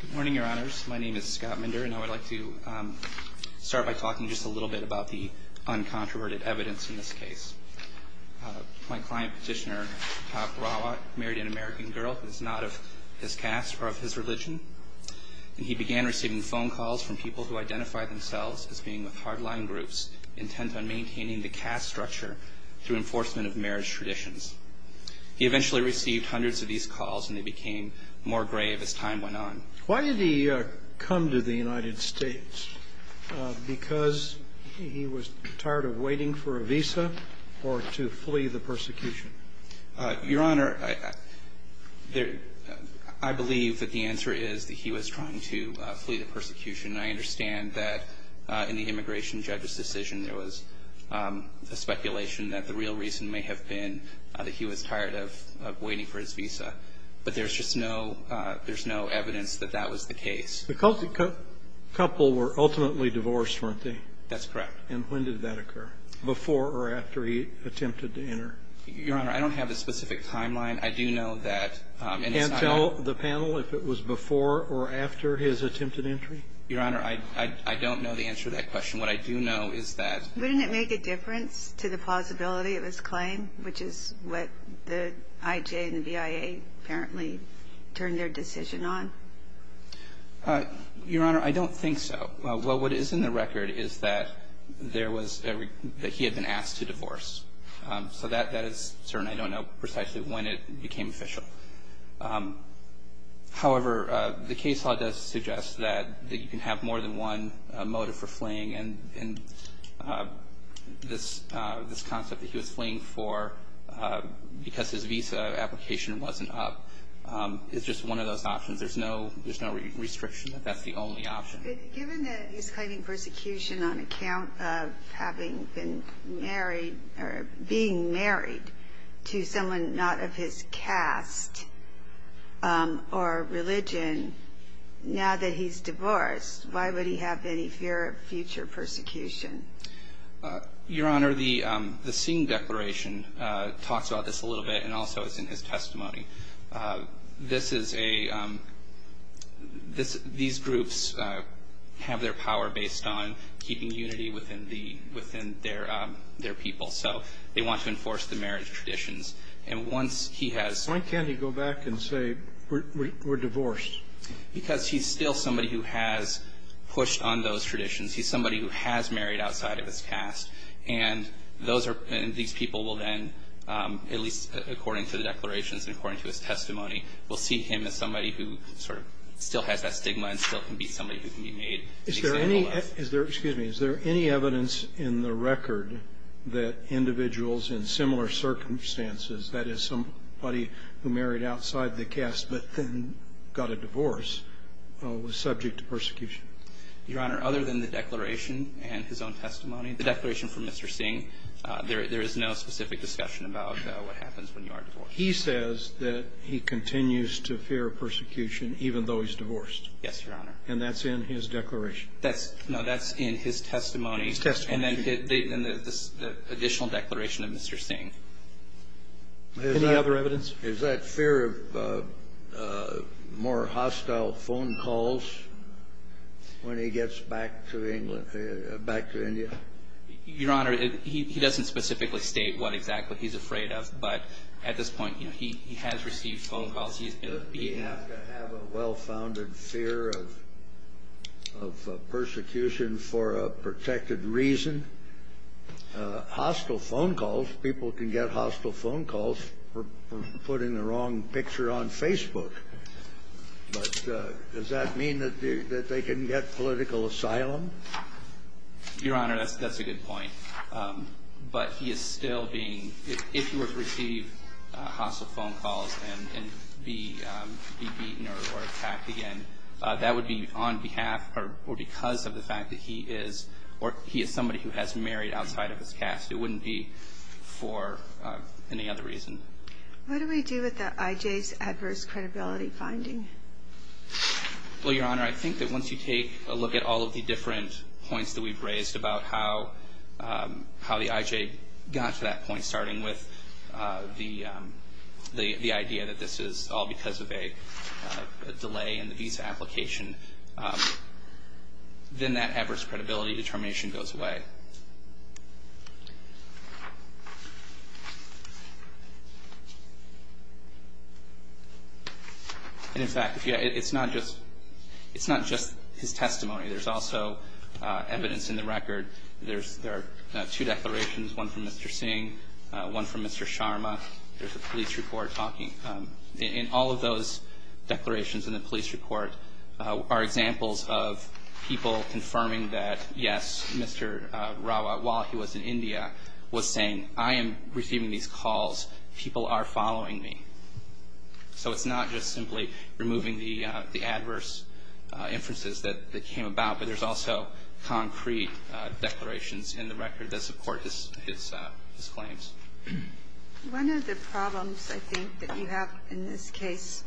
Good morning, Your Honors. My name is Scott Minder, and I would like to start by talking just a little bit about the uncontroverted evidence in this case. My client, Petitioner Patap Rawat, married an American girl who was not of his caste or of his religion. And he began receiving phone calls from people who identified themselves as being with hardline groups, intent on maintaining the caste structure through enforcement of marriage traditions. He eventually received hundreds of these calls, and they became more grave as time went on. Why did he come to the United States? Because he was tired of waiting for a visa or to flee the persecution? Your Honor, I believe that the answer is that he was trying to flee the persecution. And I understand that in the immigration judge's decision, there was a speculation that the real reason may have been that he was tired of waiting for his visa. But there's just no – there's no evidence that that was the case. The Cultic couple were ultimately divorced, weren't they? That's correct. And when did that occur, before or after he attempted to enter? Your Honor, I don't have a specific timeline. I do know that in his – Can you tell the panel if it was before or after his attempted entry? Your Honor, I don't know the answer to that question. What I do know is that – Wouldn't it make a difference to the plausibility of his claim, which is what the IJ and the BIA apparently turned their decision on? Your Honor, I don't think so. Well, what is in the record is that there was – that he had been asked to divorce. So that is certain. I don't know precisely when it became official. However, the case law does suggest that you can have more than one motive for fleeing, and this concept that he was fleeing for because his visa application wasn't up is just one of those options. There's no restriction that that's the only option. Given that he's claiming persecution on account of having been married or being married to someone not of his caste or religion, now that he's divorced, why would he have any fear of future persecution? Your Honor, the scene declaration talks about this a little bit, and also it's in his testimony. This is a – these groups have their power based on keeping unity within their people. So they want to enforce the marriage traditions. And once he has – Why can't he go back and say, we're divorced? Because he's still somebody who has pushed on those traditions. He's somebody who has married outside of his caste. And those are – and these people will then, at least according to the declarations and according to his testimony, will see him as somebody who sort of still has that stigma and still can be somebody who can be made an example of. Is there any – excuse me. Is there any evidence in the record that individuals in similar circumstances, that is, somebody who married outside the caste but then got a divorce, was subject to persecution? Your Honor, other than the declaration and his own testimony, the declaration from Mr. Singh, there is no specific discussion about what happens when you are divorced. He says that he continues to fear persecution even though he's divorced. Yes, Your Honor. And that's in his declaration. That's – no, that's in his testimony. His testimony. And then the additional declaration of Mr. Singh. Any other evidence? Is that fear of more hostile phone calls when he gets back to England – back to India? Your Honor, he doesn't specifically state what exactly he's afraid of. But at this point, you know, he has received phone calls. He has to have a well-founded fear of persecution for a protected reason. Hostile phone calls – people can get hostile phone calls for putting the wrong picture on Facebook. But does that mean that they can get political asylum? Your Honor, that's a good point. But he is still being – if he were to receive hostile phone calls and be beaten or attacked again, that would be on behalf or because of the fact that he is – or he is somebody who has married outside of his caste. It wouldn't be for any other reason. What do we do with the IJ's adverse credibility finding? Well, Your Honor, I think that once you take a look at all of the different points that we've raised about how the IJ got to that point, starting with the idea that this is all because of a delay in the visa application, then that adverse credibility determination goes away. And, in fact, it's not just his testimony. There are two declarations, one from Mr. Singh, one from Mr. Sharma. There's a police report talking. In all of those declarations in the police report are examples of people confirming that, yes, Mr. Rawat, while he was in India, was saying, I am receiving these calls, people are following me. So it's not just simply removing the adverse inferences that came about, but there's also concrete declarations in the record that support his claims. One of the problems, I think, that you have in this case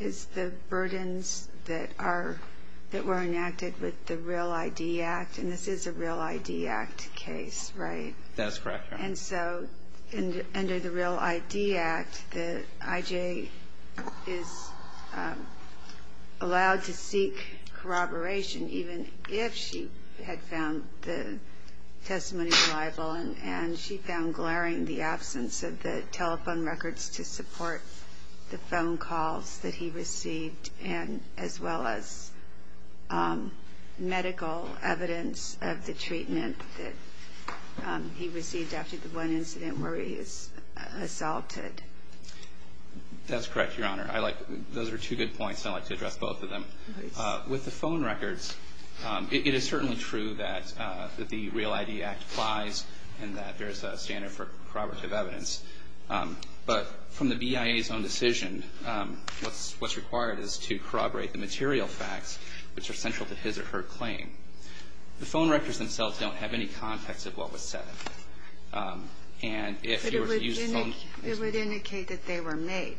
is the burdens that are – that were enacted with the Real ID Act, and this is a Real ID Act case, right? That is correct, Your Honor. And so under the Real ID Act, the IJ is allowed to seek corroboration, even if she had found the testimony reliable and she found glaring the absence of the telephone records to support the phone calls that he received, as well as medical evidence of the treatment that he received after the one incident where he was assaulted. That's correct, Your Honor. Those are two good points, and I'd like to address both of them. With the phone records, it is certainly true that the Real ID Act applies and that there is a standard for corroborative evidence. But from the BIA's own decision, what's required is to corroborate the material facts, which are central to his or her claim. The phone records themselves don't have any context of what was said. And if you were to use the phone – But it would indicate that they were made.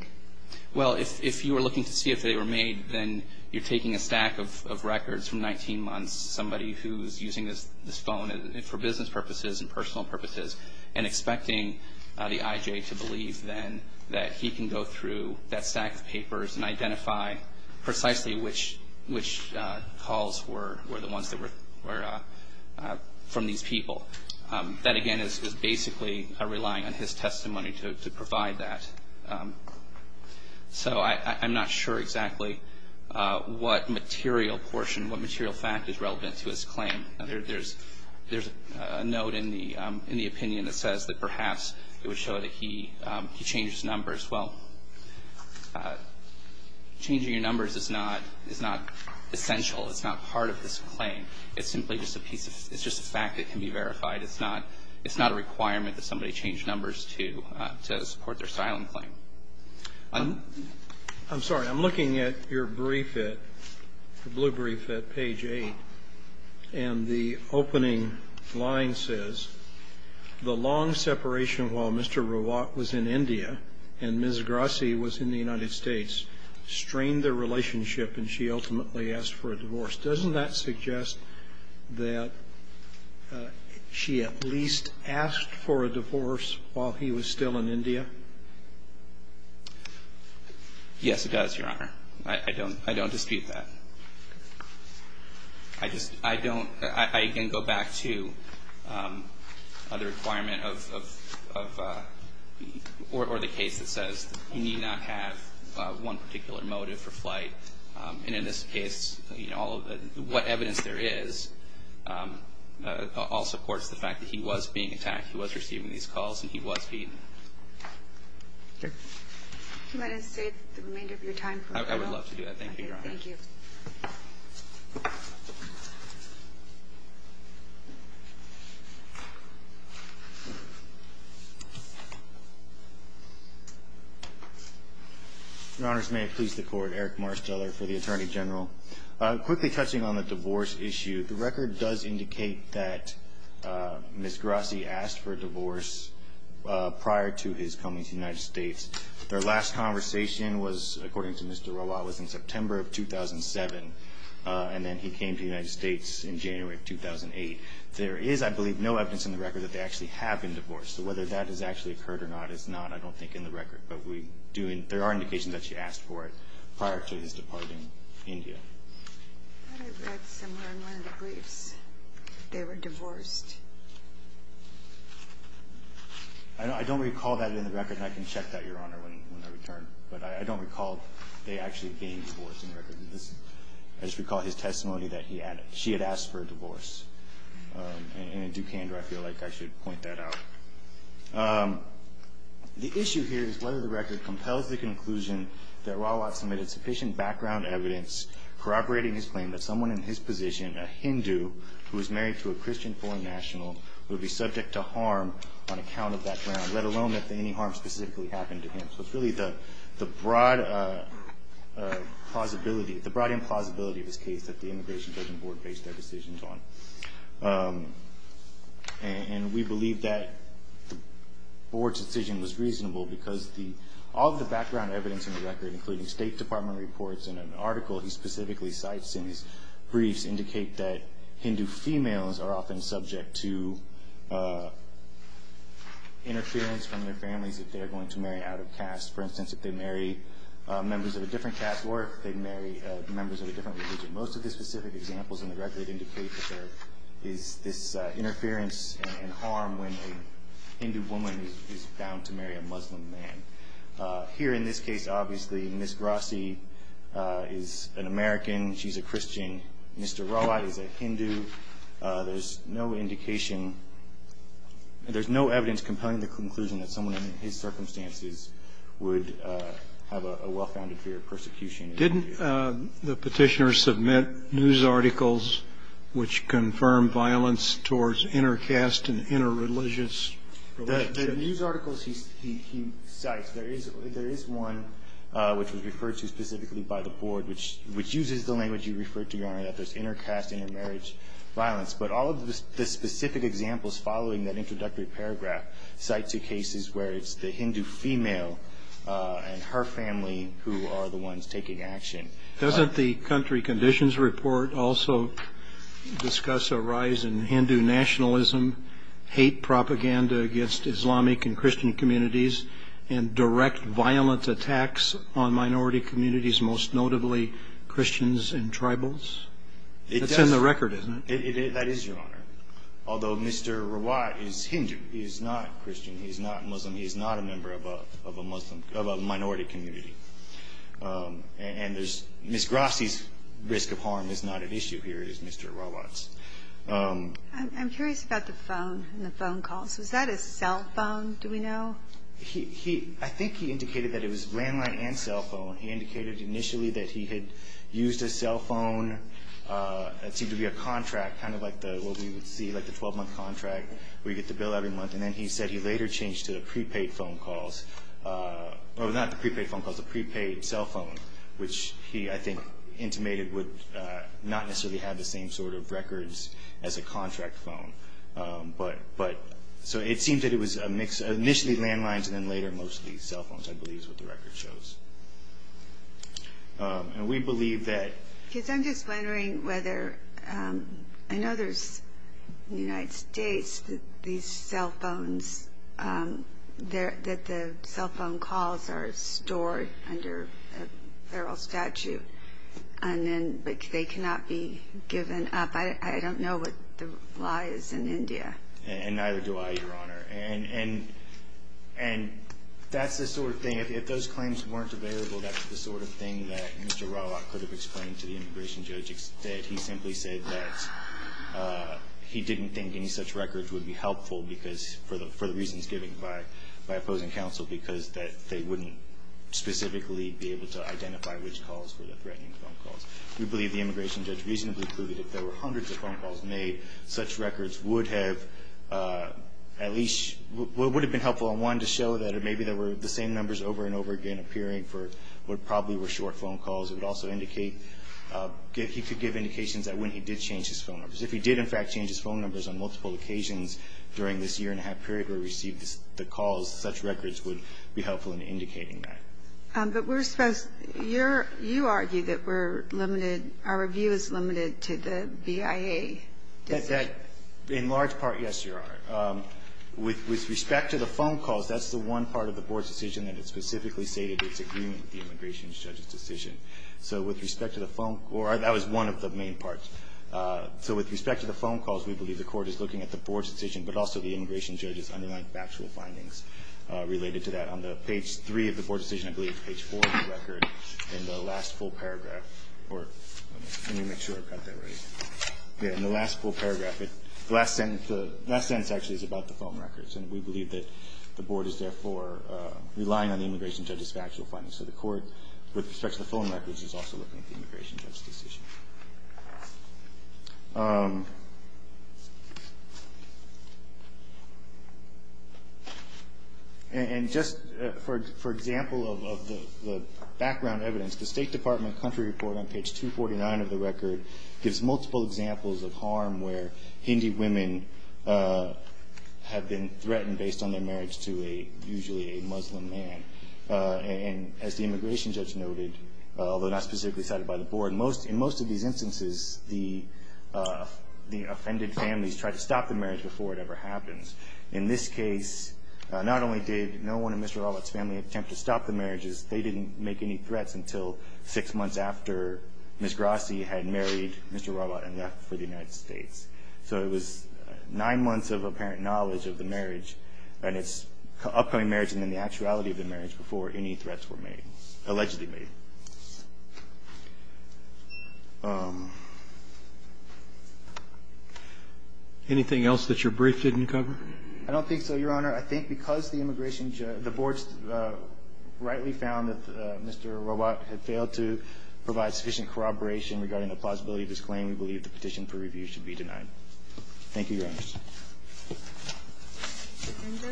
Well, if you were looking to see if they were made, then you're taking a stack of records from 19 months, somebody who's using this phone for business purposes and personal purposes and expecting the IJ to believe then that he can go through that stack of papers and identify precisely which calls were the ones that were from these people. That, again, is basically relying on his testimony to provide that. So I'm not sure exactly what material portion, what material fact is relevant to his claim. There's a note in the opinion that says that perhaps it would show that he changed his numbers. Well, changing your numbers is not essential. It's not part of this claim. It's simply just a piece of – it's just a fact that can be verified. It's not a requirement that somebody change numbers to support their silent claim. I'm sorry. I'm looking at your brief at – the blue brief at page 8. And the opening line says, The long separation while Mr. Rawat was in India and Ms. Grassi was in the United States strained their relationship and she ultimately asked for a divorce. Doesn't that suggest that she at least asked for a divorce while he was still in India? Yes, it does, Your Honor. I don't dispute that. I just – I don't – I again go back to the requirement of – or the case that says you need not have one particular motive for flight. And in this case, you know, all of the – what evidence there is all supports the fact that he was being attacked. He was receiving these calls and he was beaten. Okay. Do you mind if I save the remainder of your time? I would love to do that. Thank you, Your Honor. Thank you. Your Honors, may it please the Court, Eric Marsteller for the Attorney General. Quickly touching on the divorce issue, the record does indicate that Ms. Grassi asked for a divorce prior to his coming to the United States. Their last conversation was, according to Mr. Rawat, was in September of 2007, and then he came to the United States in January of 2008. There is, I believe, no evidence in the record that they actually have been divorced. So whether that has actually occurred or not is not, I don't think, in the record. But we do – there are indications that she asked for it prior to his departing India. I read somewhere in one of the briefs they were divorced. I don't recall that in the record, and I can check that, Your Honor, when I return. But I don't recall they actually being divorced in the record. I just recall his testimony that he had – she had asked for a divorce. And in Dukander, I feel like I should point that out. The issue here is whether the record compels the conclusion that Rawat submitted sufficient background evidence corroborating his claim that someone in his position, a Hindu, who was married to a Christian foreign national, would be subject to harm on account of background, let alone that any harm specifically happened to him. So it's really the broad plausibility – the broad implausibility of his case that the Immigration Judgment Board based their decisions on. And we believe that the Board's decision was reasonable because the – including State Department reports and an article he specifically cites in his briefs indicate that Hindu females are often subject to interference from their families if they are going to marry out of caste. For instance, if they marry members of a different caste or if they marry members of a different religion. Most of the specific examples in the record indicate that there is this interference and harm when a Hindu woman is bound to marry a Muslim man. Here in this case, obviously, Ms. Grassi is an American. She's a Christian. Mr. Rawat is a Hindu. There's no indication – there's no evidence compelling the conclusion that someone in his circumstances would have a well-founded fear of persecution. Did the Petitioner submit news articles which confirm violence towards inter-caste and inter-religious relationships? In the news articles he cites, there is one which was referred to specifically by the Board, which uses the language you referred to, Your Honor, that there's inter-caste, inter-marriage violence. But all of the specific examples following that introductory paragraph cite two cases where it's the Hindu female and her family who are the ones taking action. Doesn't the Country Conditions Report also discuss a rise in Hindu nationalism, hate propaganda against Islamic and Christian communities, and direct violent attacks on minority communities, most notably Christians and tribals? That's in the record, isn't it? That is, Your Honor, although Mr. Rawat is Hindu. He is not Christian. He is not Muslim. He is not a member of a Muslim – of a minority community. And there's – Ms. Grassi's risk of harm is not at issue here, is Mr. Rawat's. I'm curious about the phone and the phone calls. Was that a cell phone, do we know? He – I think he indicated that it was landline and cell phone. He indicated initially that he had used a cell phone. It seemed to be a contract, kind of like the – what we would see, like the 12-month contract where you get the bill every month. And then he said he later changed to prepaid phone calls – or not the prepaid phone calls, the prepaid cell phone, which he, I think, intimated would not necessarily have the same sort of records as a contract phone. But – so it seemed that it was a mix – initially landlines and then later mostly cell phones, I believe is what the record shows. And we believe that – Because I'm just wondering whether – I know there's, in the United States, these cell phones – that the cell phone calls are stored under a feral statute. And then they cannot be given up. I don't know what the lie is in India. And neither do I, Your Honor. And that's the sort of thing – if those claims weren't available, that's the sort of thing that Mr. Rawat could have explained to the immigration judge, that he simply said that he didn't think any such records would be helpful because – for the reasons given by opposing counsel, because that they wouldn't specifically be able to identify which calls were the threatening phone calls. We believe the immigration judge reasonably proved that if there were hundreds of phone calls made, such records would have at least – would have been helpful in one, to show that maybe there were the same numbers over and over again appearing for what probably were short phone calls. It would also indicate – he could give indications that when he did change his phone numbers. If he did, in fact, change his phone numbers on multiple occasions during this year-and-a-half period and never received the calls, such records would be helpful in indicating that. But we're supposed – you're – you argue that we're limited – our review is limited to the BIA decision. In large part, yes, Your Honor. With respect to the phone calls, that's the one part of the Board's decision that has specifically stated its agreement with the immigration judge's decision. So with respect to the phone – or that was one of the main parts. So with respect to the phone calls, we believe the Court is looking at the Board's underlying factual findings related to that. On the page 3 of the Board decision, I believe, page 4 of the record, in the last full paragraph – or let me make sure I've got that right. Yeah, in the last full paragraph, the last sentence actually is about the phone records. And we believe that the Board is therefore relying on the immigration judge's factual findings. So the Court, with respect to the phone records, is also looking at the immigration judge's decision. And just for example of the background evidence, the State Department country report on page 249 of the record gives multiple examples of harm where Hindi women have been threatened based on their marriage to a – usually a Muslim man. And as the immigration judge noted, although not specifically cited by the Board, in most of these instances, the offended families try to stop the marriage before it ever happens. In this case, not only did no one in Mr. Rawat's family attempt to stop the marriages, they didn't make any threats until six months after Ms. Grassi had married Mr. Rawat and left for the United States. So it was nine months of apparent knowledge of the marriage and its upcoming marriage and then the actuality of the marriage before any threats were made – allegedly made. Anything else that your brief didn't cover? I don't think so, Your Honor. I think because the immigration judge – the Board rightly found that Mr. Rawat had failed to provide sufficient corroboration regarding the plausibility of his claim, we believe the petition for review should be denied. Thank you, Your Honor. Thank you.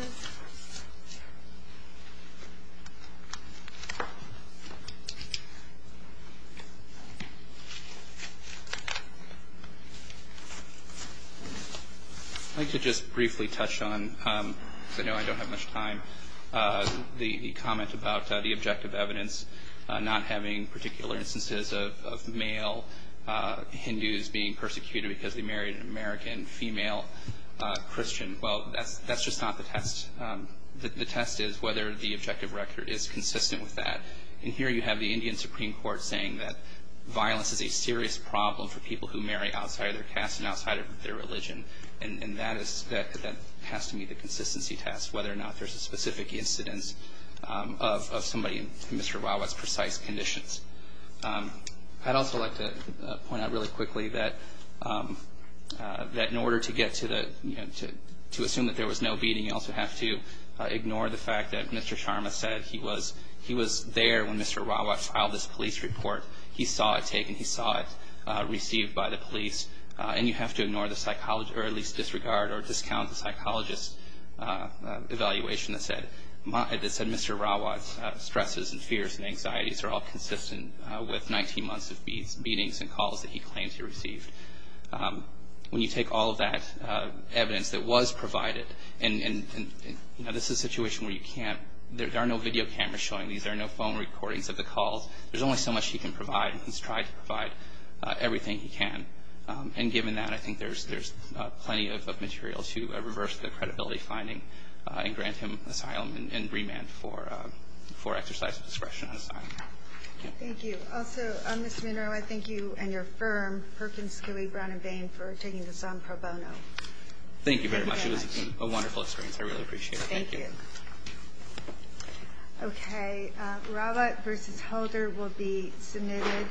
I'd like to just briefly touch on – because I know I don't have much time – the comment about the objective evidence not having particular instances of male Hindus being persecuted because they married an American female Christian. Well, that's just not the test. The test is whether the objective record is consistent with that. And here you have the Indian Supreme Court saying that violence is a serious problem for people who marry outside of their caste and outside of their religion. And that is – that has to meet the consistency test, whether or not there's a specific incidence of somebody in Mr. Rawat's precise conditions. I'd also like to point out really quickly that in order to get to the – to assume that there was no beating, you also have to ignore the fact that Mr. Sharma said he was there when Mr. Rawat filed this police report. He saw it taken. He saw it received by the police. And you have to ignore the – or at least disregard or discount the psychologist's evaluation that said Mr. Rawat's stresses and fears and anxieties are all consistent with 19 months of beatings and calls that he claims he received. When you take all of that evidence that was provided – and, you know, this is a situation where you can't – there are no video cameras showing these. There are no phone recordings of the calls. There's only so much he can provide, and he's tried to provide everything he can. And given that, I think there's plenty of material to reverse the credibility finding and grant him asylum and remand for exercise of discretion. Thank you. Also, Ms. Munro, I thank you and your firm, Perkins, Kiwi, Brown & Bain, for taking this on pro bono. Thank you very much. It was a wonderful experience. I really appreciate it. Thank you. Okay. Rawat v. Holder will be submitted.